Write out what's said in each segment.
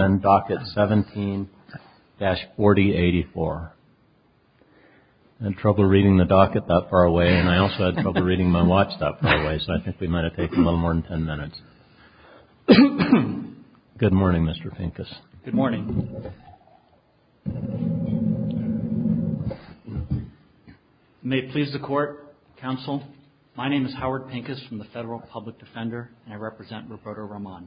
17-4084. I had trouble reading the docket that far away and I also had trouble reading my watch that far away, so I think we might have taken a little more than ten minutes. Good morning, Mr. Pincus. Good morning. May it please the Court, Counsel, my name is Howard Pincus from the Federal Public Defender and I represent Roberto Roman.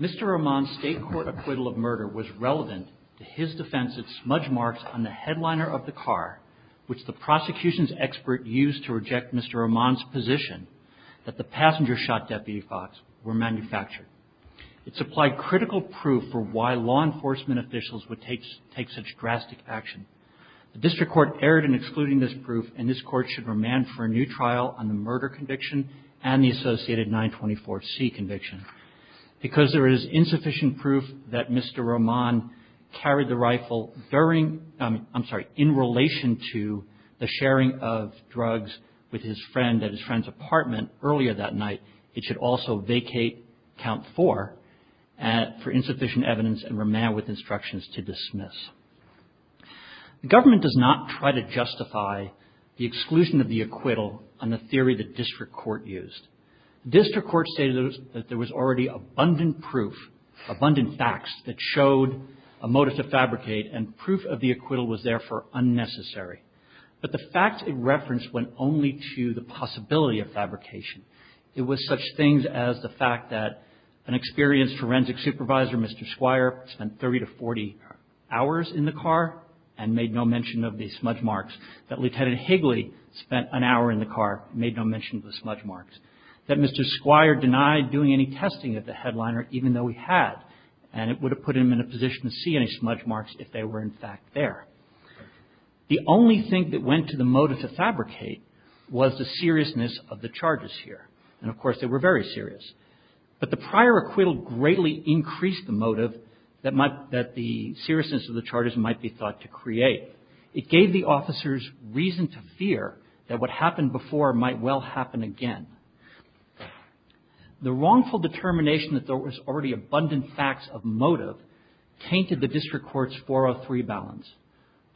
Mr. Roman's State Court acquittal of murder was relevant to his defense of smudge marks on the headliner of the car, which the prosecution's expert used to reject Mr. Roman's position that the passengers shot Deputy Fox were manufactured. It supplied critical proof for why law enforcement officials would take such drastic action. The District Court erred in excluding this proof and this Court should remand for a new trial on the murder conviction and the associated 924C conviction. Because there is insufficient proof that Mr. Roman carried the rifle during, I'm sorry, in relation to the sharing of drugs with his friend at his friend's apartment earlier that night, it should also vacate Count 4 for insufficient evidence and remand with instructions to dismiss. The government does not try to justify the exclusion of the acquittal on the theory that District Court used. District Court stated that there was already abundant proof, abundant facts that showed a motive to fabricate and proof of the acquittal was therefore unnecessary. But the fact it referenced went only to the possibility of fabrication. It was such things as the fact that an experienced forensic supervisor, Mr. Squire, spent 30 to 40 hours in the car and made no mention of the smudge marks. That Lieutenant Higley spent an hour in the car, made no mention of the smudge marks. That Mr. Squire denied doing any testing at the headliner even though he had and it would have put him in a position to see any smudge marks if they were in fact there. The only thing that went to the motive to fabricate was the seriousness of the charges here and of course they were very serious. But the prior acquittal greatly increased the motive that might, that the seriousness of the charges might be thought to create. It gave the officers reason to fear that what happened before might well happen again. The wrongful determination that there was already abundant facts of motive tainted the District Court's 403 balance.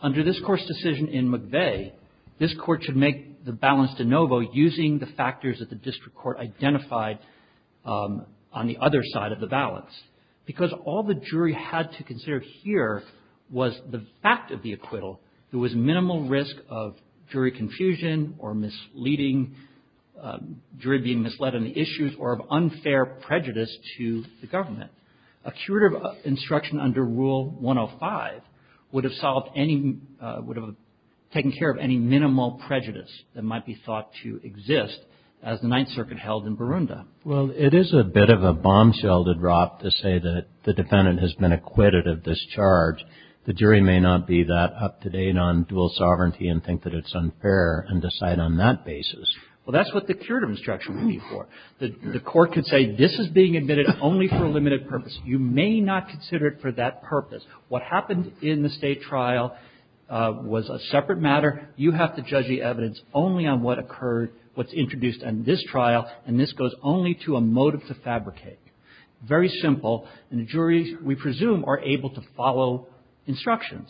Under this Court's decision in McVeigh, this Court should make the balance de novo using the factors that the District Court identified on the other side of the balance. Because all the jury had to consider here was the fact of the acquittal. There was minimal risk of jury confusion or misleading, jury being misled on the issues or of unfair prejudice to the government. A curative instruction under Rule 105 would have solved any, would have taken care of any minimal prejudice that might be thought to exist as the Ninth Circuit held in Barunda. Well, it is a bit of a bombshell to drop to say that the defendant has been acquitted of this charge. The jury may not be that up-to-date on dual sovereignty and think that it's unfair and decide on that basis. Well, that's what the curative instruction would be for. The Court could say this is being admitted only for a limited purpose. You may not consider it for that purpose. What happened in the State trial was a separate matter. You have to judge the evidence only on what occurred, what's introduced in this trial, and this goes only to a motive to fabricate. Very simple. And the juries, we presume, are able to follow instructions.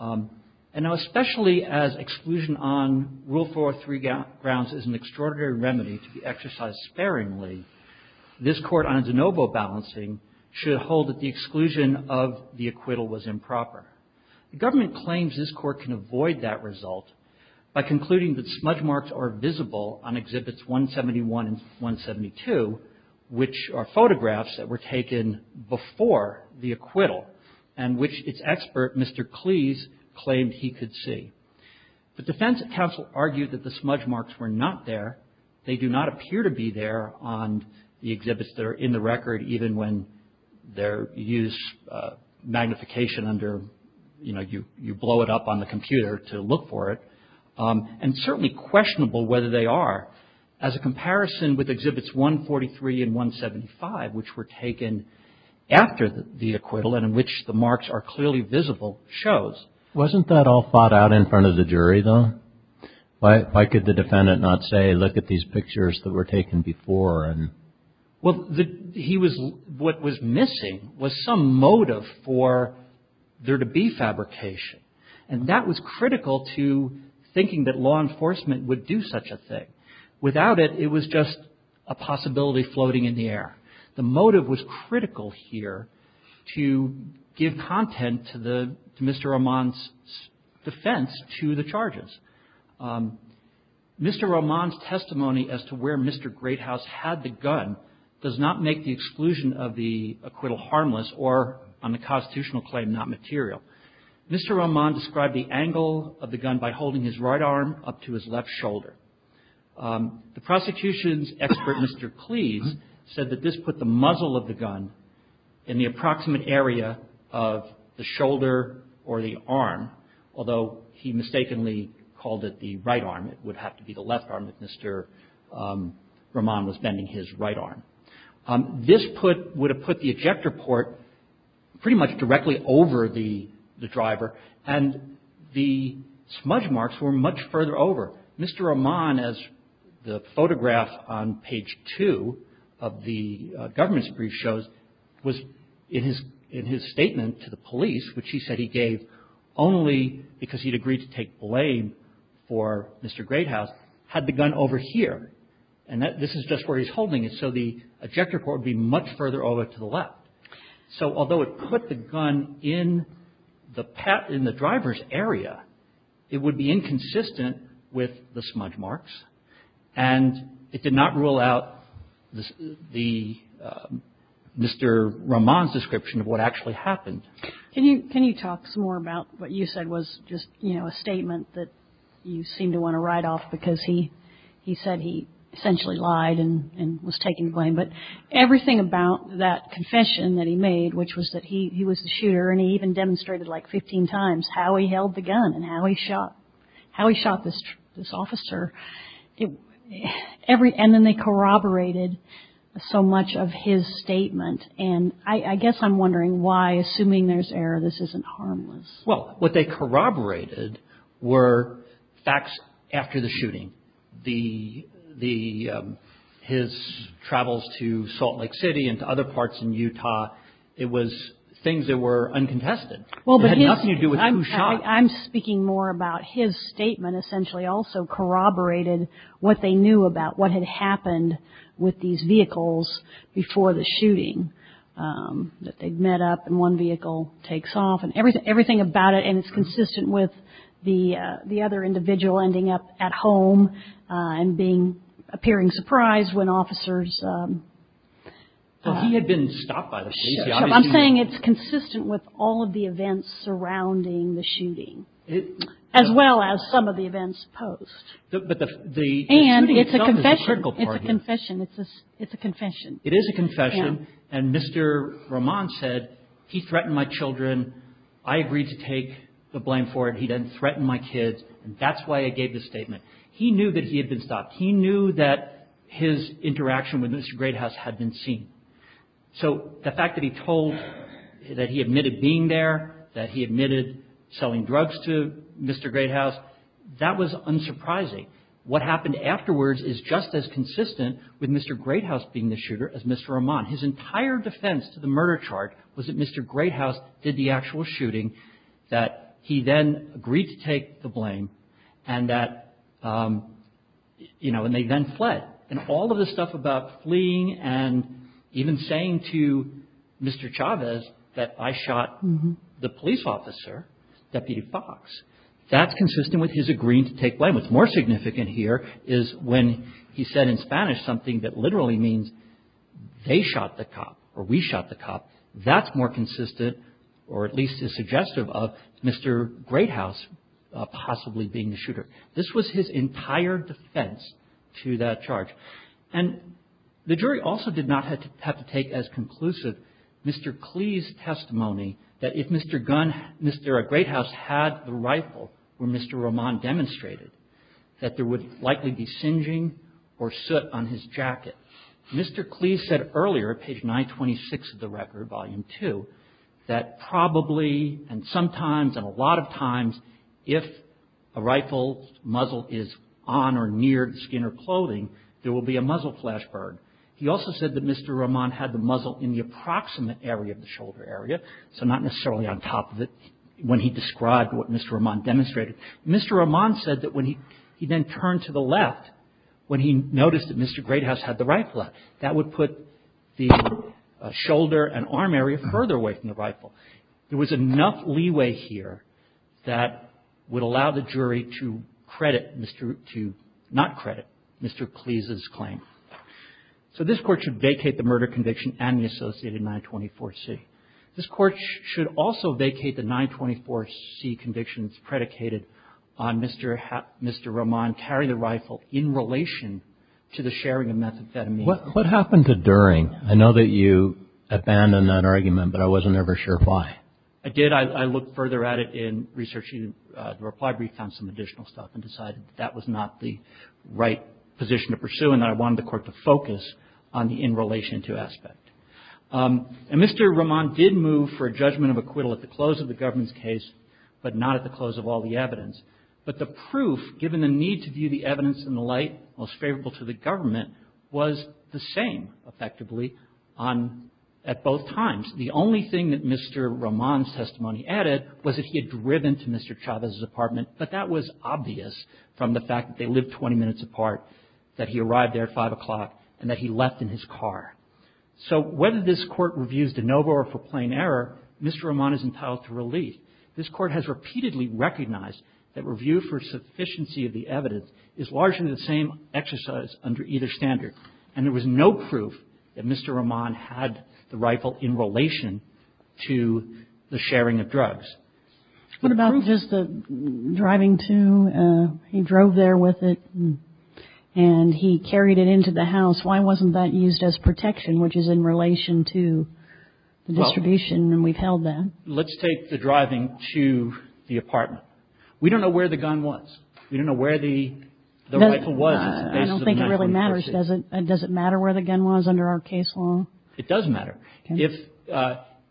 And now, especially as exclusion on Rule 403 grounds is an extraordinary remedy to be exercised sparingly, this Court on de novo balancing should hold that the exclusion of the acquittal was improper. The government claims this Court can avoid that result by concluding that smudge marks are visible on Exhibits 171 and 172, which are photographs that were taken before the acquittal and which its expert, Mr. Cleese, claimed he could see. The defense counsel argued that the smudge marks were not there. They do not appear to be there on the exhibits that are in the record, even when they're used, magnification under, you know, you blow it up on the computer to look for it. And certainly questionable whether they are. As a comparison with Exhibits 143 and 175, which were taken after the acquittal and in which the marks are clearly visible, shows. Wasn't that all thought out in front of the jury, though? Why could the defendant not say, look at these pictures that were taken before? Well, he was what was missing was some motive for there to be fabrication. And that was critical to thinking that law enforcement would do such a thing. Without it, it was just a possibility floating in the air. The motive was critical here to give content to Mr. Roman's defense to the charges. Mr. Roman's testimony as to where Mr. Greathouse had the gun does not make the exclusion of the acquittal harmless or on the constitutional claim not material. Mr. Roman described the angle of the gun by holding his right arm up to his left shoulder. The prosecution's expert, Mr. Cleese, said that this put the muzzle of the gun in the approximate area of the shoulder or the arm, although he mistakenly called it the right arm. It would have to be the left arm if Mr. Roman was bending his right arm. This would have put the ejector port pretty much directly over the driver, and the smudge marks were much further over. Mr. Roman, as the photograph on page two of the government's brief shows, was in his statement to the police, which he said he gave only because he'd agreed to take blame for Mr. Greathouse, had the gun over here. And this is just where he's holding it, so the ejector port would be much further over to the left. So although it put the gun in the driver's area, it would be inconsistent with the smudge marks, and it did not rule out the Mr. Roman's description of what actually happened. Can you talk some more about what you said was just, you know, a statement that you seem to want to write off because he said he essentially lied and was taken to blame, but everything about that confession that he made, which was that he was the shooter and he even demonstrated like 15 times how he held the gun and how he shot this officer. And then they corroborated so much of his statement, and I guess I'm wondering why, assuming there's error, this isn't harmless. Well, what they corroborated were facts after the shooting. His travels to Salt Lake City and to other parts in Utah, it was things that were uncontested. It had nothing to do with who shot him. I'm speaking more about his statement essentially also corroborated what they knew about what had happened with these vehicles before the shooting, that they'd met up and one vehicle takes off and everything about it, and it's consistent with the other individual ending up at home and appearing surprised when officers. He had been stopped by the police. I'm saying it's consistent with all of the events surrounding the shooting as well as some of the events post. And it's a confession. It's a confession. It is a confession, and Mr. Roman said he threatened my children. I agreed to take the blame for it. He didn't threaten my kids, and that's why I gave this statement. He knew that he had been stopped. He knew that his interaction with Mr. Greathouse had been seen. So the fact that he told that he admitted being there, that he admitted selling drugs to Mr. Greathouse, that was unsurprising. What happened afterwards is just as consistent with Mr. Greathouse being the shooter as Mr. Roman. His entire defense to the murder chart was that Mr. Greathouse did the actual shooting, that he then agreed to take the blame, and that, you know, and they then fled. And all of the stuff about fleeing and even saying to Mr. Chavez that I shot the police officer, Deputy Fox, that's consistent with his agreeing to take blame. What's more significant here is when he said in Spanish something that literally means they shot the cop or we shot the cop. That's more consistent or at least is suggestive of Mr. Greathouse possibly being the shooter. This was his entire defense to that charge. And the jury also did not have to take as conclusive Mr. Clee's testimony that if Mr. Gunn, Mr. Greathouse had the rifle where Mr. Roman demonstrated that there would likely be singeing or soot on his jacket. Mr. Clee said earlier, page 926 of the record, volume 2, that probably and sometimes and a lot of times, if a rifle muzzle is on or near skin or clothing, there will be a muzzle flash burn. He also said that Mr. Roman had the muzzle in the approximate area of the shoulder area, so not necessarily on top of it when he described what Mr. Roman demonstrated. Mr. Roman said that when he then turned to the left, when he noticed that Mr. Greathouse had the rifle out, that would put the shoulder and arm area further away from the rifle. There was enough leeway here that would allow the jury to credit Mr. to not credit Mr. Clee's claim. So this Court should vacate the murder conviction and the associated 924C. This Court should also vacate the 924C convictions predicated on Mr. Roman carry the rifle in relation to the sharing of methamphetamine. What happened to during? I know that you abandoned that argument, but I wasn't ever sure why. I did. I looked further at it in researching the reply brief, found some additional stuff, and decided that was not the right position to pursue and I wanted the Court to focus on the in relation to aspect. And Mr. Roman did move for a judgment of acquittal at the close of the government's case, but not at the close of all the evidence. But the proof, given the need to view the evidence in the light most favorable to the government, was the same, effectively, at both times. The only thing that Mr. Roman's testimony added was that he had driven to Mr. Chavez's apartment, but that was obvious from the fact that they lived 20 minutes apart, that he arrived there at 5 o'clock, and that he left in his car. So whether this Court reviews de novo or for plain error, Mr. Roman is entitled to relief. This Court has repeatedly recognized that review for sufficiency of the evidence is largely the same exercise under either standard. And there was no proof that Mr. Roman had the rifle in relation to the sharing of drugs. What about just the driving to? He drove there with it and he carried it into the house. Why wasn't that used as protection, which is in relation to the distribution and we've held that? Let's take the driving to the apartment. We don't know where the gun was. We don't know where the rifle was. I don't think it really matters. Does it matter where the gun was under our case law? It does matter.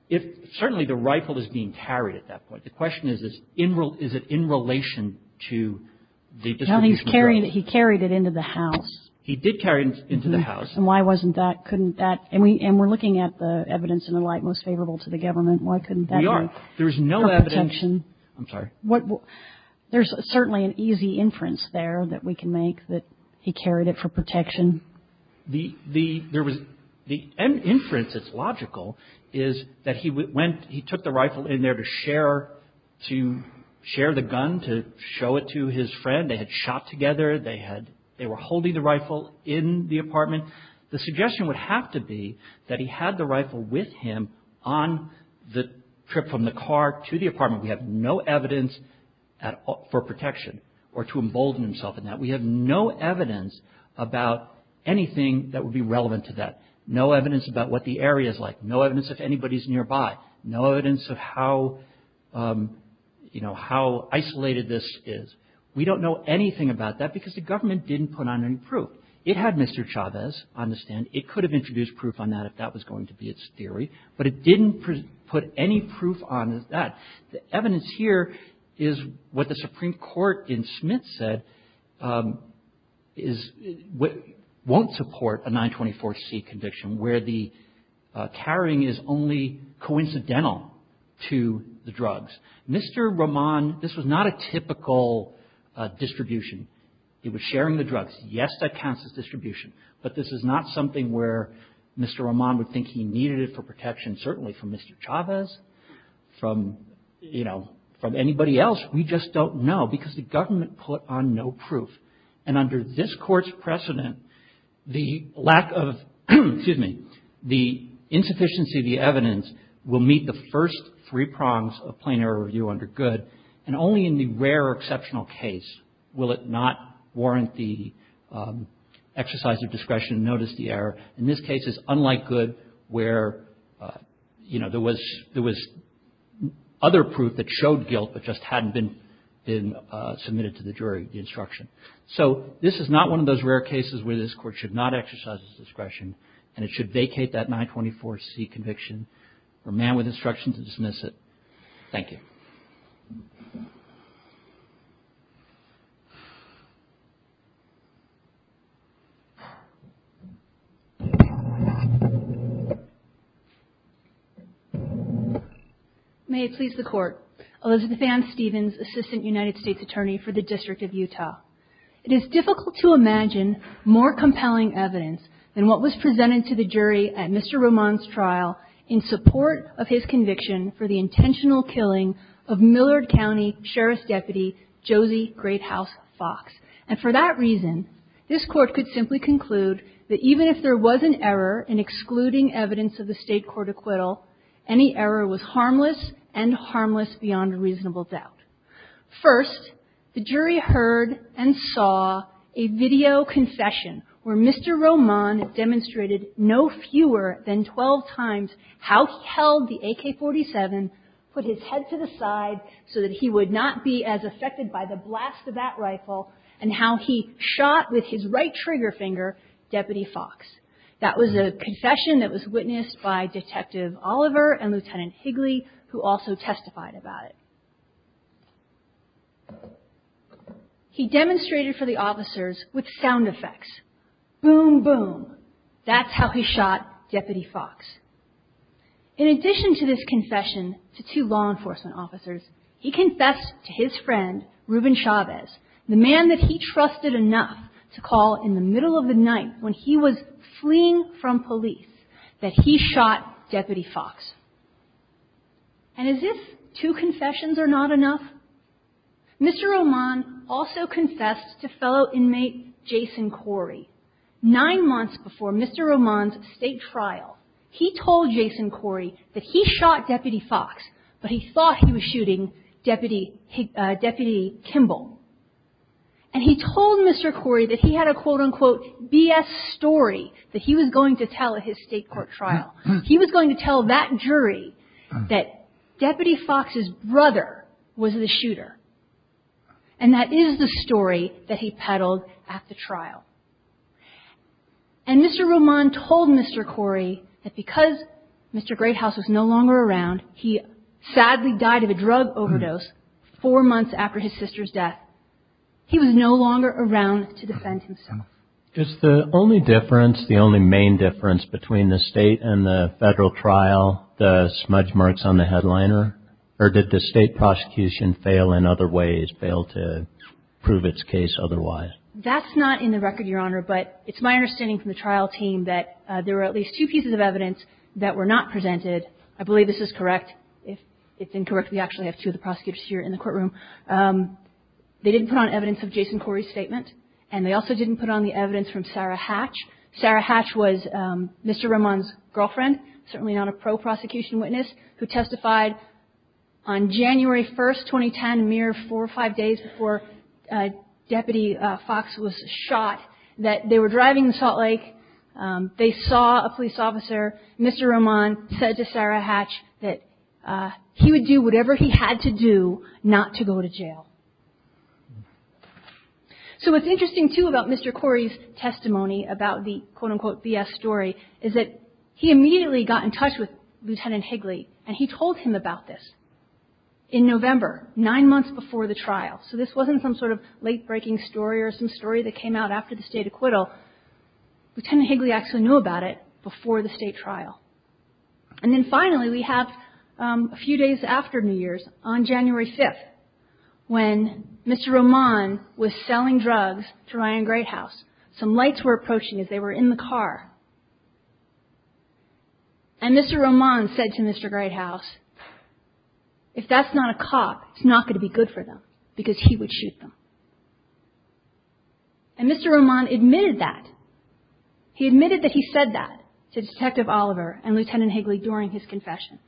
If certainly the rifle is being carried at that point. The question is, is it in relation to the distribution of drugs? He carried it into the house. He did carry it into the house. And why wasn't that? Couldn't that? And we're looking at the evidence in the light most favorable to the government. Why couldn't that work? We are. There's no evidence. For protection. I'm sorry. There's certainly an easy inference there that we can make that he carried it for protection. The inference that's logical is that he took the rifle in there to share the gun, to show it to his friend. They had shot together. They were holding the rifle in the apartment. The suggestion would have to be that he had the rifle with him on the trip from the car to the apartment. We have no evidence for protection or to embolden himself in that. We have no evidence about anything that would be relevant to that. No evidence about what the area is like. No evidence if anybody's nearby. No evidence of how, you know, how isolated this is. We don't know anything about that because the government didn't put on any proof. It had Mr. Chavez on the stand. It could have introduced proof on that if that was going to be its theory. But it didn't put any proof on that. The evidence here is what the Supreme Court in Smith said won't support a 924C conviction where the carrying is only coincidental to the drugs. Mr. Roman, this was not a typical distribution. It was sharing the drugs. Yes, that counts as distribution. But this is not something where Mr. Roman would think he needed it for protection, certainly from Mr. Chavez, from, you know, from anybody else. We just don't know because the government put on no proof. And under this Court's precedent, the lack of, excuse me, the insufficiency of the evidence will meet the first three prongs of plain error review under Good. And only in the rare exceptional case will it not warrant the exercise of discretion and notice the error. In this case, it's unlike Good where, you know, there was other proof that showed guilt but just hadn't been submitted to the jury, the instruction. So this is not one of those rare cases where this Court should not exercise its discretion and it should vacate that 924C conviction for a man with instruction to dismiss it. Thank you. May it please the Court. Elizabeth Ann Stevens, Assistant United States Attorney for the District of Utah. It is difficult to imagine more compelling evidence than what was presented to the jury at Mr. Roman's trial in support of his conviction for the intentional killing of Millard County Sheriff's Deputy Josie Greathouse Fox. And for that reason, this Court could simply conclude that even if there was an error in excluding evidence of the State court acquittal, any error was harmless and harmless beyond reasonable doubt. First, the jury heard and saw a video confession where Mr. Roman demonstrated no fewer than 12 times how he held the AK-47, put his head to the side so that he would not be as affected by the blast of that rifle, and how he shot with his right trigger finger Deputy Fox. That was a confession that was witnessed by Detective Oliver and Lieutenant Higley who also testified about it. He demonstrated for the officers with sound effects. Boom, boom. That's how he shot Deputy Fox. In addition to this confession to two law enforcement officers, he confessed to his friend, Ruben Chavez, the man that he trusted enough to call in the middle of the night when he was fleeing from police, that he shot Deputy Fox. And as if two confessions are not enough, Mr. Roman also confessed to fellow inmate Jason Corey. Nine months before Mr. Roman's State trial, he told Jason Corey that he shot Deputy Fox, but he thought he was shooting Deputy Kimball. And he told Mr. Corey that he had a quote, unquote, BS story that he was going to tell at his State court trial. He was going to tell that jury that Deputy Fox's brother was the shooter. And that is the story that he peddled at the trial. And Mr. Roman told Mr. Corey that because Mr. Greathouse was no longer around, he sadly died of a drug overdose four months after his sister's death. He was no longer around to defend himself. Just the only difference, the only main difference between the State and the Federal trial, the smudge marks on the headliner, or did the State prosecution fail in other ways, fail to prove its case otherwise? That's not in the record, Your Honor, but it's my understanding from the trial team that there were at least two pieces of evidence that were not presented. I believe this is correct. If it's incorrect, we actually have two of the prosecutors here in the courtroom. They didn't put on evidence of Jason Corey's statement. And they also didn't put on the evidence from Sarah Hatch. Sarah Hatch was Mr. Roman's girlfriend, certainly not a pro-prosecution witness, who testified on January 1, 2010, a mere four or five days before Deputy Fox was shot, that they were driving in Salt Lake. They saw a police officer. Mr. Roman said to Sarah Hatch that he would do whatever he had to do not to go to jail. So what's interesting, too, about Mr. Corey's testimony about the, quote-unquote, BS story is that he immediately got in touch with Lieutenant Higley, and he told him about this in November, nine months before the trial. So this wasn't some sort of late-breaking story or some story that came out after the State acquittal. Lieutenant Higley actually knew about it before the State trial. And then, finally, we have a few days after New Year's, on January 5, when Mr. Roman was selling drugs to Ryan Greathouse. Some lights were approaching as they were in the car. And Mr. Roman said to Mr. Greathouse, if that's not a cop, it's not going to be good for them because he would shoot them. And Mr. Roman admitted that. He admitted that he said that to Detective Oliver and Lieutenant Higley during his confession.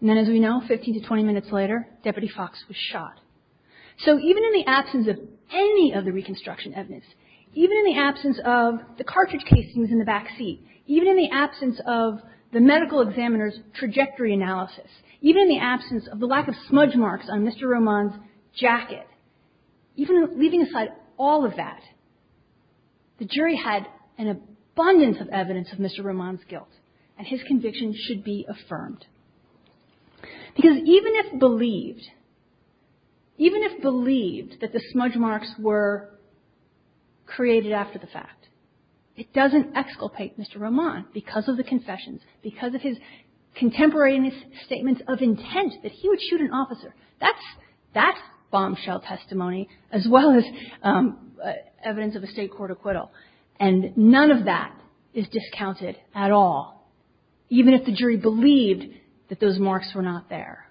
And then, as we know, 15 to 20 minutes later, Deputy Fox was shot. So even in the absence of any of the reconstruction evidence, even in the absence of the cartridge casings in the backseat, even in the absence of the medical examiner's trajectory analysis, even in the absence of the lack of smudge marks on Mr. Roman's jacket, even leaving aside all of that, the jury had an abundance of evidence of Mr. Roman's guilt. And his conviction should be affirmed. Because even if believed, even if believed that the smudge marks were created after the fact, it doesn't exculpate Mr. Roman because of the confessions, because of his contemporaneous statements of intent that he would shoot an officer. That's bombshell testimony, as well as evidence of a State court acquittal. And none of that is discounted at all, even if the jury believed that those marks were not there.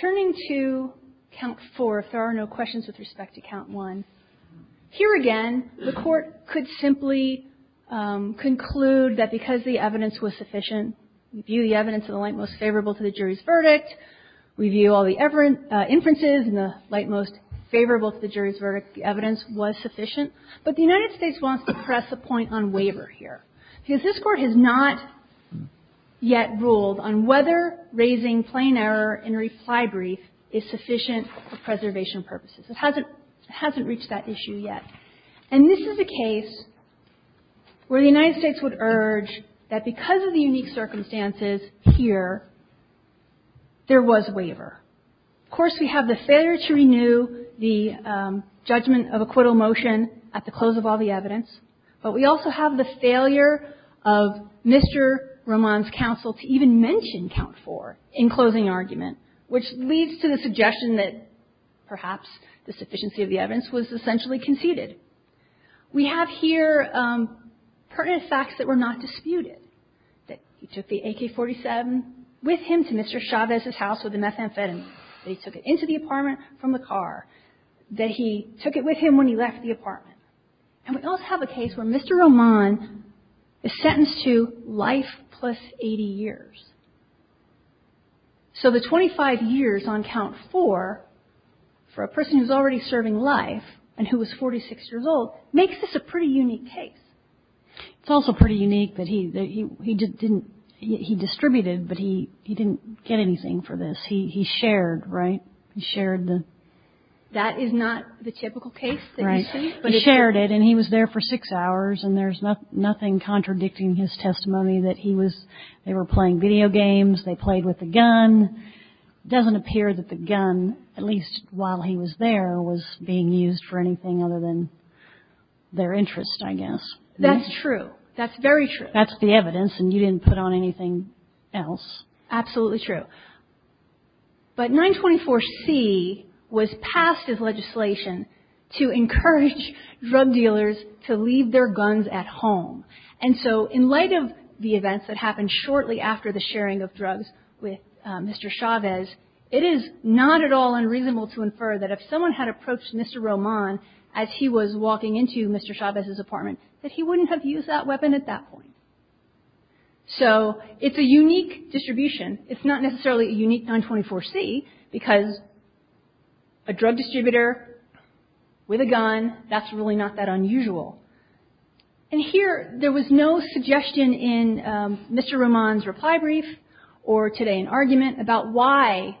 Turning to Count 4, if there are no questions with respect to Count 1. Here again, the Court could simply conclude that because the evidence was sufficient, we view the evidence in the light most favorable to the jury's verdict. We view all the inferences in the light most favorable to the jury's verdict. The evidence was sufficient. But the United States wants to press a point on waiver here. Because this Court has not yet ruled on whether raising plain error in a reply brief is sufficient for preservation purposes. It hasn't reached that issue yet. And this is a case where the United States would urge that because of the unique circumstances here, there was waiver. Of course, we have the failure to renew the judgment of acquittal motion at the close of all the evidence. But we also have the failure of Mr. Roman's counsel to even mention Count 4 in closing argument, which leads to the suggestion that perhaps the sufficiency of the evidence was essentially conceded. We have here pertinent facts that were not disputed. That he took the AK-47 with him to Mr. Chavez's house with the methamphetamine. That he took it into the apartment from the car. That he took it with him when he left the apartment. And we also have a case where Mr. Roman is sentenced to life plus 80 years. So the 25 years on Count 4 for a person who's already serving life and who was 46 years old makes this a pretty unique case. It's also pretty unique that he just didn't, he distributed, but he didn't get anything for this. He shared, right? He shared the. That is not the typical case that you see. Right. He shared it, and he was there for six hours, and there's nothing contradicting his testimony that he was, they were playing video games. They played with the gun. Doesn't appear that the gun, at least while he was there, was being used for anything other than their interest, I guess. That's true. That's very true. That's the evidence, and you didn't put on anything else. Absolutely true. But 924C was passed as legislation to encourage drug dealers to leave their guns at home. And so in light of the events that happened shortly after the sharing of drugs with Mr. Chavez, it is not at all unreasonable to infer that if someone had approached Mr. Roman as he was walking into Mr. Chavez's apartment, that he wouldn't have used that weapon at that point. So it's a unique distribution. It's not necessarily a unique 924C because a drug distributor with a gun, that's really not that unusual. And here, there was no suggestion in Mr. Roman's reply brief or today in argument about why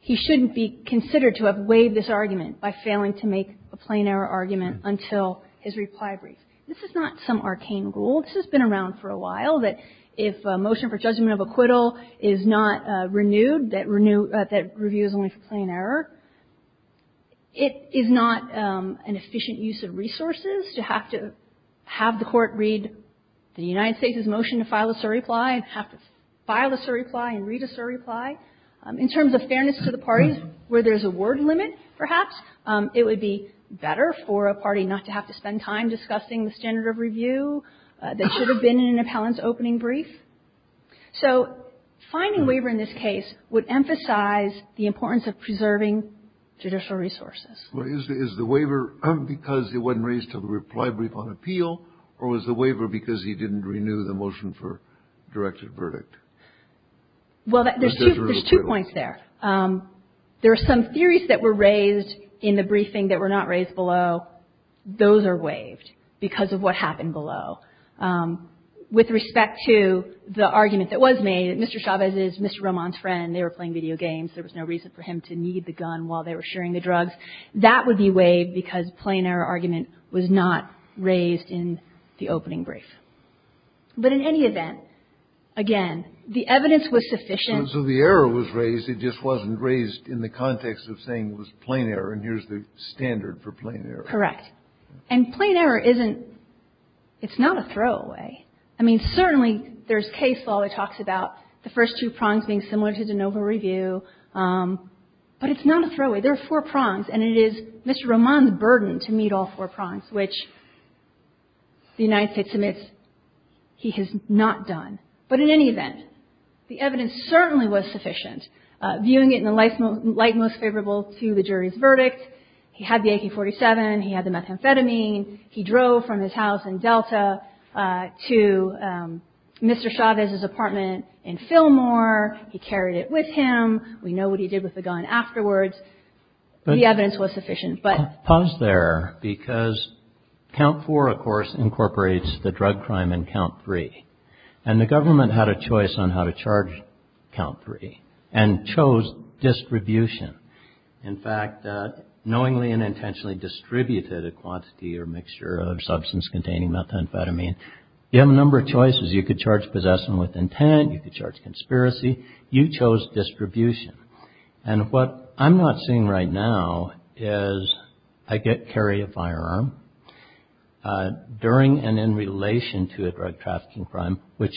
he shouldn't be considered to have waived this argument by failing to make a plain error argument until his reply brief. This is not some arcane rule. This has been around for a while, that if a motion for judgment of acquittal is not have the court read the United States' motion to file a surreply and have to file a surreply and read a surreply. In terms of fairness to the parties, where there's a word limit, perhaps, it would be better for a party not to have to spend time discussing the standard of review that should have been in an appellant's opening brief. So finding waiver in this case would emphasize the importance of preserving judicial resources. Is the waiver because it wasn't raised to the reply brief on appeal or was the waiver because he didn't renew the motion for directed verdict? Well, there's two points there. There are some theories that were raised in the briefing that were not raised below. Those are waived because of what happened below. With respect to the argument that was made, Mr. Chavez is Mr. Roman's friend. They were playing video games. There was no reason for him to need the gun while they were sharing the drugs. That would be waived because plain error argument was not raised in the opening brief. But in any event, again, the evidence was sufficient. So the error was raised. It just wasn't raised in the context of saying it was plain error and here's the standard for plain error. Correct. And plain error isn't – it's not a throwaway. I mean, certainly there's case law that talks about the first two prongs being similar to de novo review. But it's not a throwaway. There are four prongs. And it is Mr. Roman's burden to meet all four prongs, which the United States admits he has not done. But in any event, the evidence certainly was sufficient. Viewing it in the light most favorable to the jury's verdict, he had the AK-47. He had the methamphetamine. He drove from his house in Delta to Mr. Chavez's apartment in Fillmore. He carried it with him. We know what he did with the gun afterwards. The evidence was sufficient. Pause there, because count four, of course, incorporates the drug crime in count three. And the government had a choice on how to charge count three and chose distribution. In fact, knowingly and intentionally distributed a quantity or mixture of substance containing methamphetamine. You have a number of choices. You could charge possession with intent. You could charge conspiracy. You chose distribution. And what I'm not seeing right now is I carry a firearm during and in relation to a drug trafficking crime, which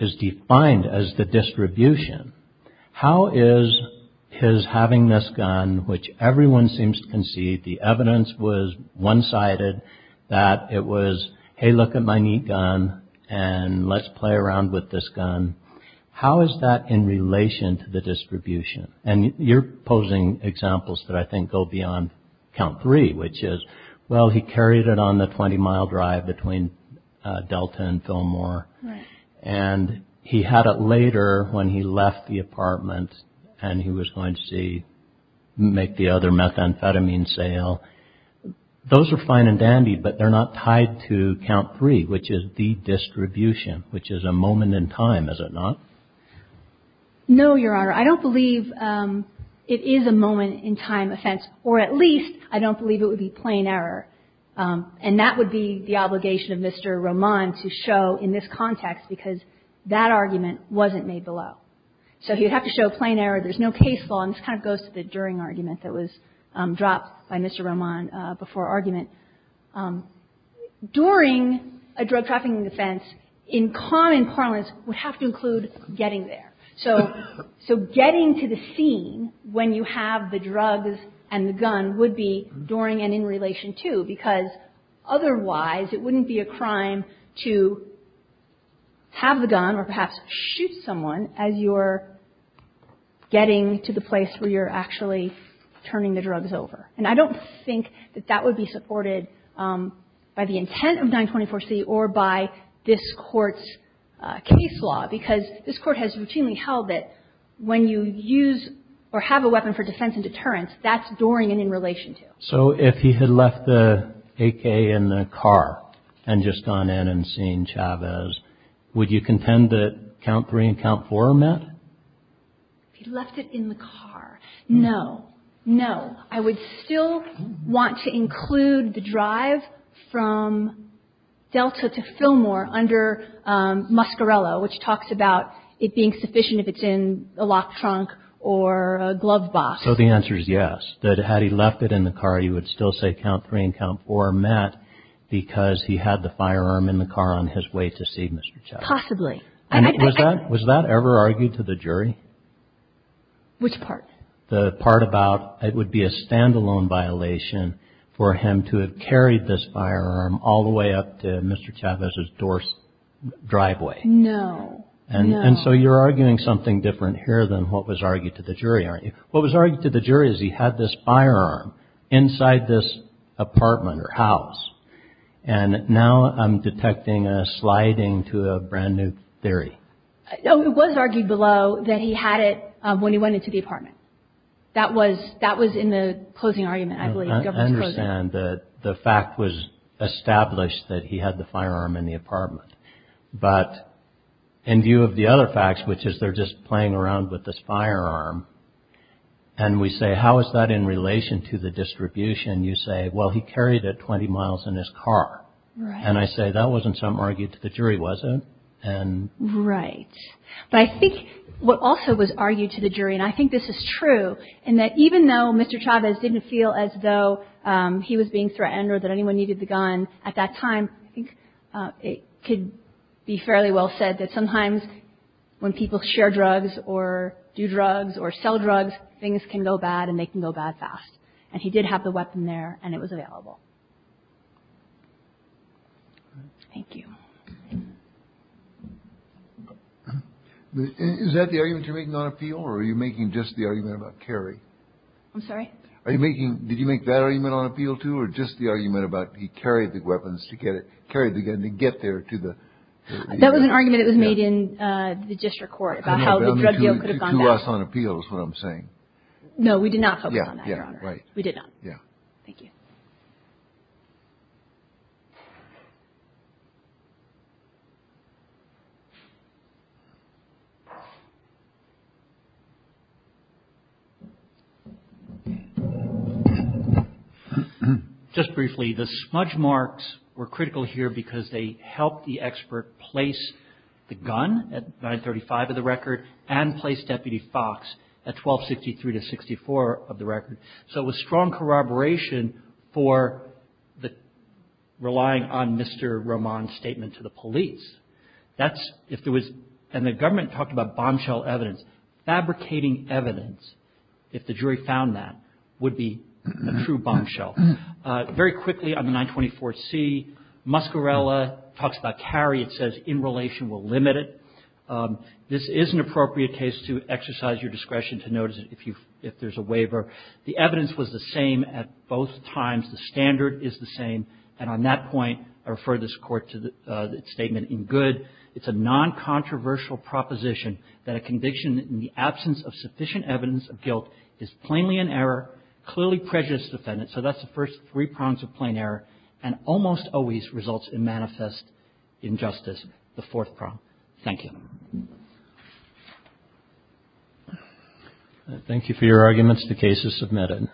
is defined as the distribution. How is his having this gun, which everyone seems to concede the evidence was one-sided, that it was, hey, look at my neat gun and let's play around with this gun. How is that in relation to the distribution? And you're posing examples that I think go beyond count three, which is, well, he carried it on the 20-mile drive between Delta and Fillmore, and he had it later when he left the apartment and he was going to make the other methamphetamine sale. Those are fine and dandy, but they're not tied to count three, which is the distribution, which is a moment in time, is it not? No, Your Honor. I don't believe it is a moment in time offense, or at least I don't believe it would be plain error. And that would be the obligation of Mr. Roman to show in this context, because that argument wasn't made below. So he would have to show plain error. There's no case law. And this kind of goes to the during argument that was dropped by Mr. Roman before argument. And during a drug trafficking defense, in common parlance, would have to include getting there. So getting to the scene when you have the drugs and the gun would be during and in relation to, because otherwise it wouldn't be a crime to have the gun or perhaps shoot someone as you're getting to the place where you're actually turning the drugs over. And I don't think that that would be supported by the intent of 924C or by this Court's case law, because this Court has routinely held that when you use or have a weapon for defense and deterrence, that's during and in relation to. So if he had left the AK in the car and just gone in and seen Chavez, would you contend that count three and count four are met? If he left it in the car? No. No. I would still want to include the drive from Delta to Fillmore under Muscarello, which talks about it being sufficient if it's in a lock trunk or a glove box. So the answer is yes, that had he left it in the car, you would still say count three and count four are met because he had the firearm in the car on his way to see Mr. Chavez. Possibly. Was that ever argued to the jury? Which part? The part about it would be a stand-alone violation for him to have carried this firearm all the way up to Mr. Chavez's door driveway. No. No. And so you're arguing something different here than what was argued to the jury, aren't you? What was argued to the jury is he had this firearm inside this apartment or house. And now I'm detecting a sliding to a brand new theory. No, it was argued below that he had it when he went into the apartment. That was in the closing argument, I believe. I understand that the fact was established that he had the firearm in the apartment. But in view of the other facts, which is they're just playing around with this firearm, and we say how is that in relation to the distribution, you say, well, he carried it 20 miles in his car. Right. And I say that wasn't something argued to the jury, was it? Right. But I think what also was argued to the jury, and I think this is true, in that even though Mr. Chavez didn't feel as though he was being threatened or that anyone needed the gun at that time, I think it could be fairly well said that sometimes when people share drugs or do something, they can go bad and they can go bad fast. And he did have the weapon there and it was available. Thank you. Is that the argument you're making on appeal or are you making just the argument about Kerry? I'm sorry. Are you making did you make that argument on appeal to or just the argument about he carried the weapons to get it carried again to get there to the. That was an argument that was made in the district court about how the drug deal could appeal is what I'm saying. No, we did not. Yeah. Yeah. Right. We did. Yeah. Thank you. Just briefly, the smudge marks were critical here because they helped the expert place the gun at 935 of the record and place Deputy Fox at 1263 to 64 of the record. So it was strong corroboration for the relying on Mr. Roman statement to the police. That's if there was and the government talked about bombshell evidence fabricating evidence. If the jury found that would be a true bombshell. Very quickly on the 924C, Muscarella talks about Kerry. It says in relation will limit it. This is an appropriate case to exercise your discretion to notice if you if there's a waiver. The evidence was the same at both times. The standard is the same. And on that point, I refer this court to the statement in good. It's a non-controversial proposition that a conviction in the absence of sufficient evidence of guilt is plainly an error. Clearly prejudice defendant. So that's the first three prongs of plain error and almost always results in manifest injustice. The fourth problem. Thank you. Thank you for your arguments. The case is submitted.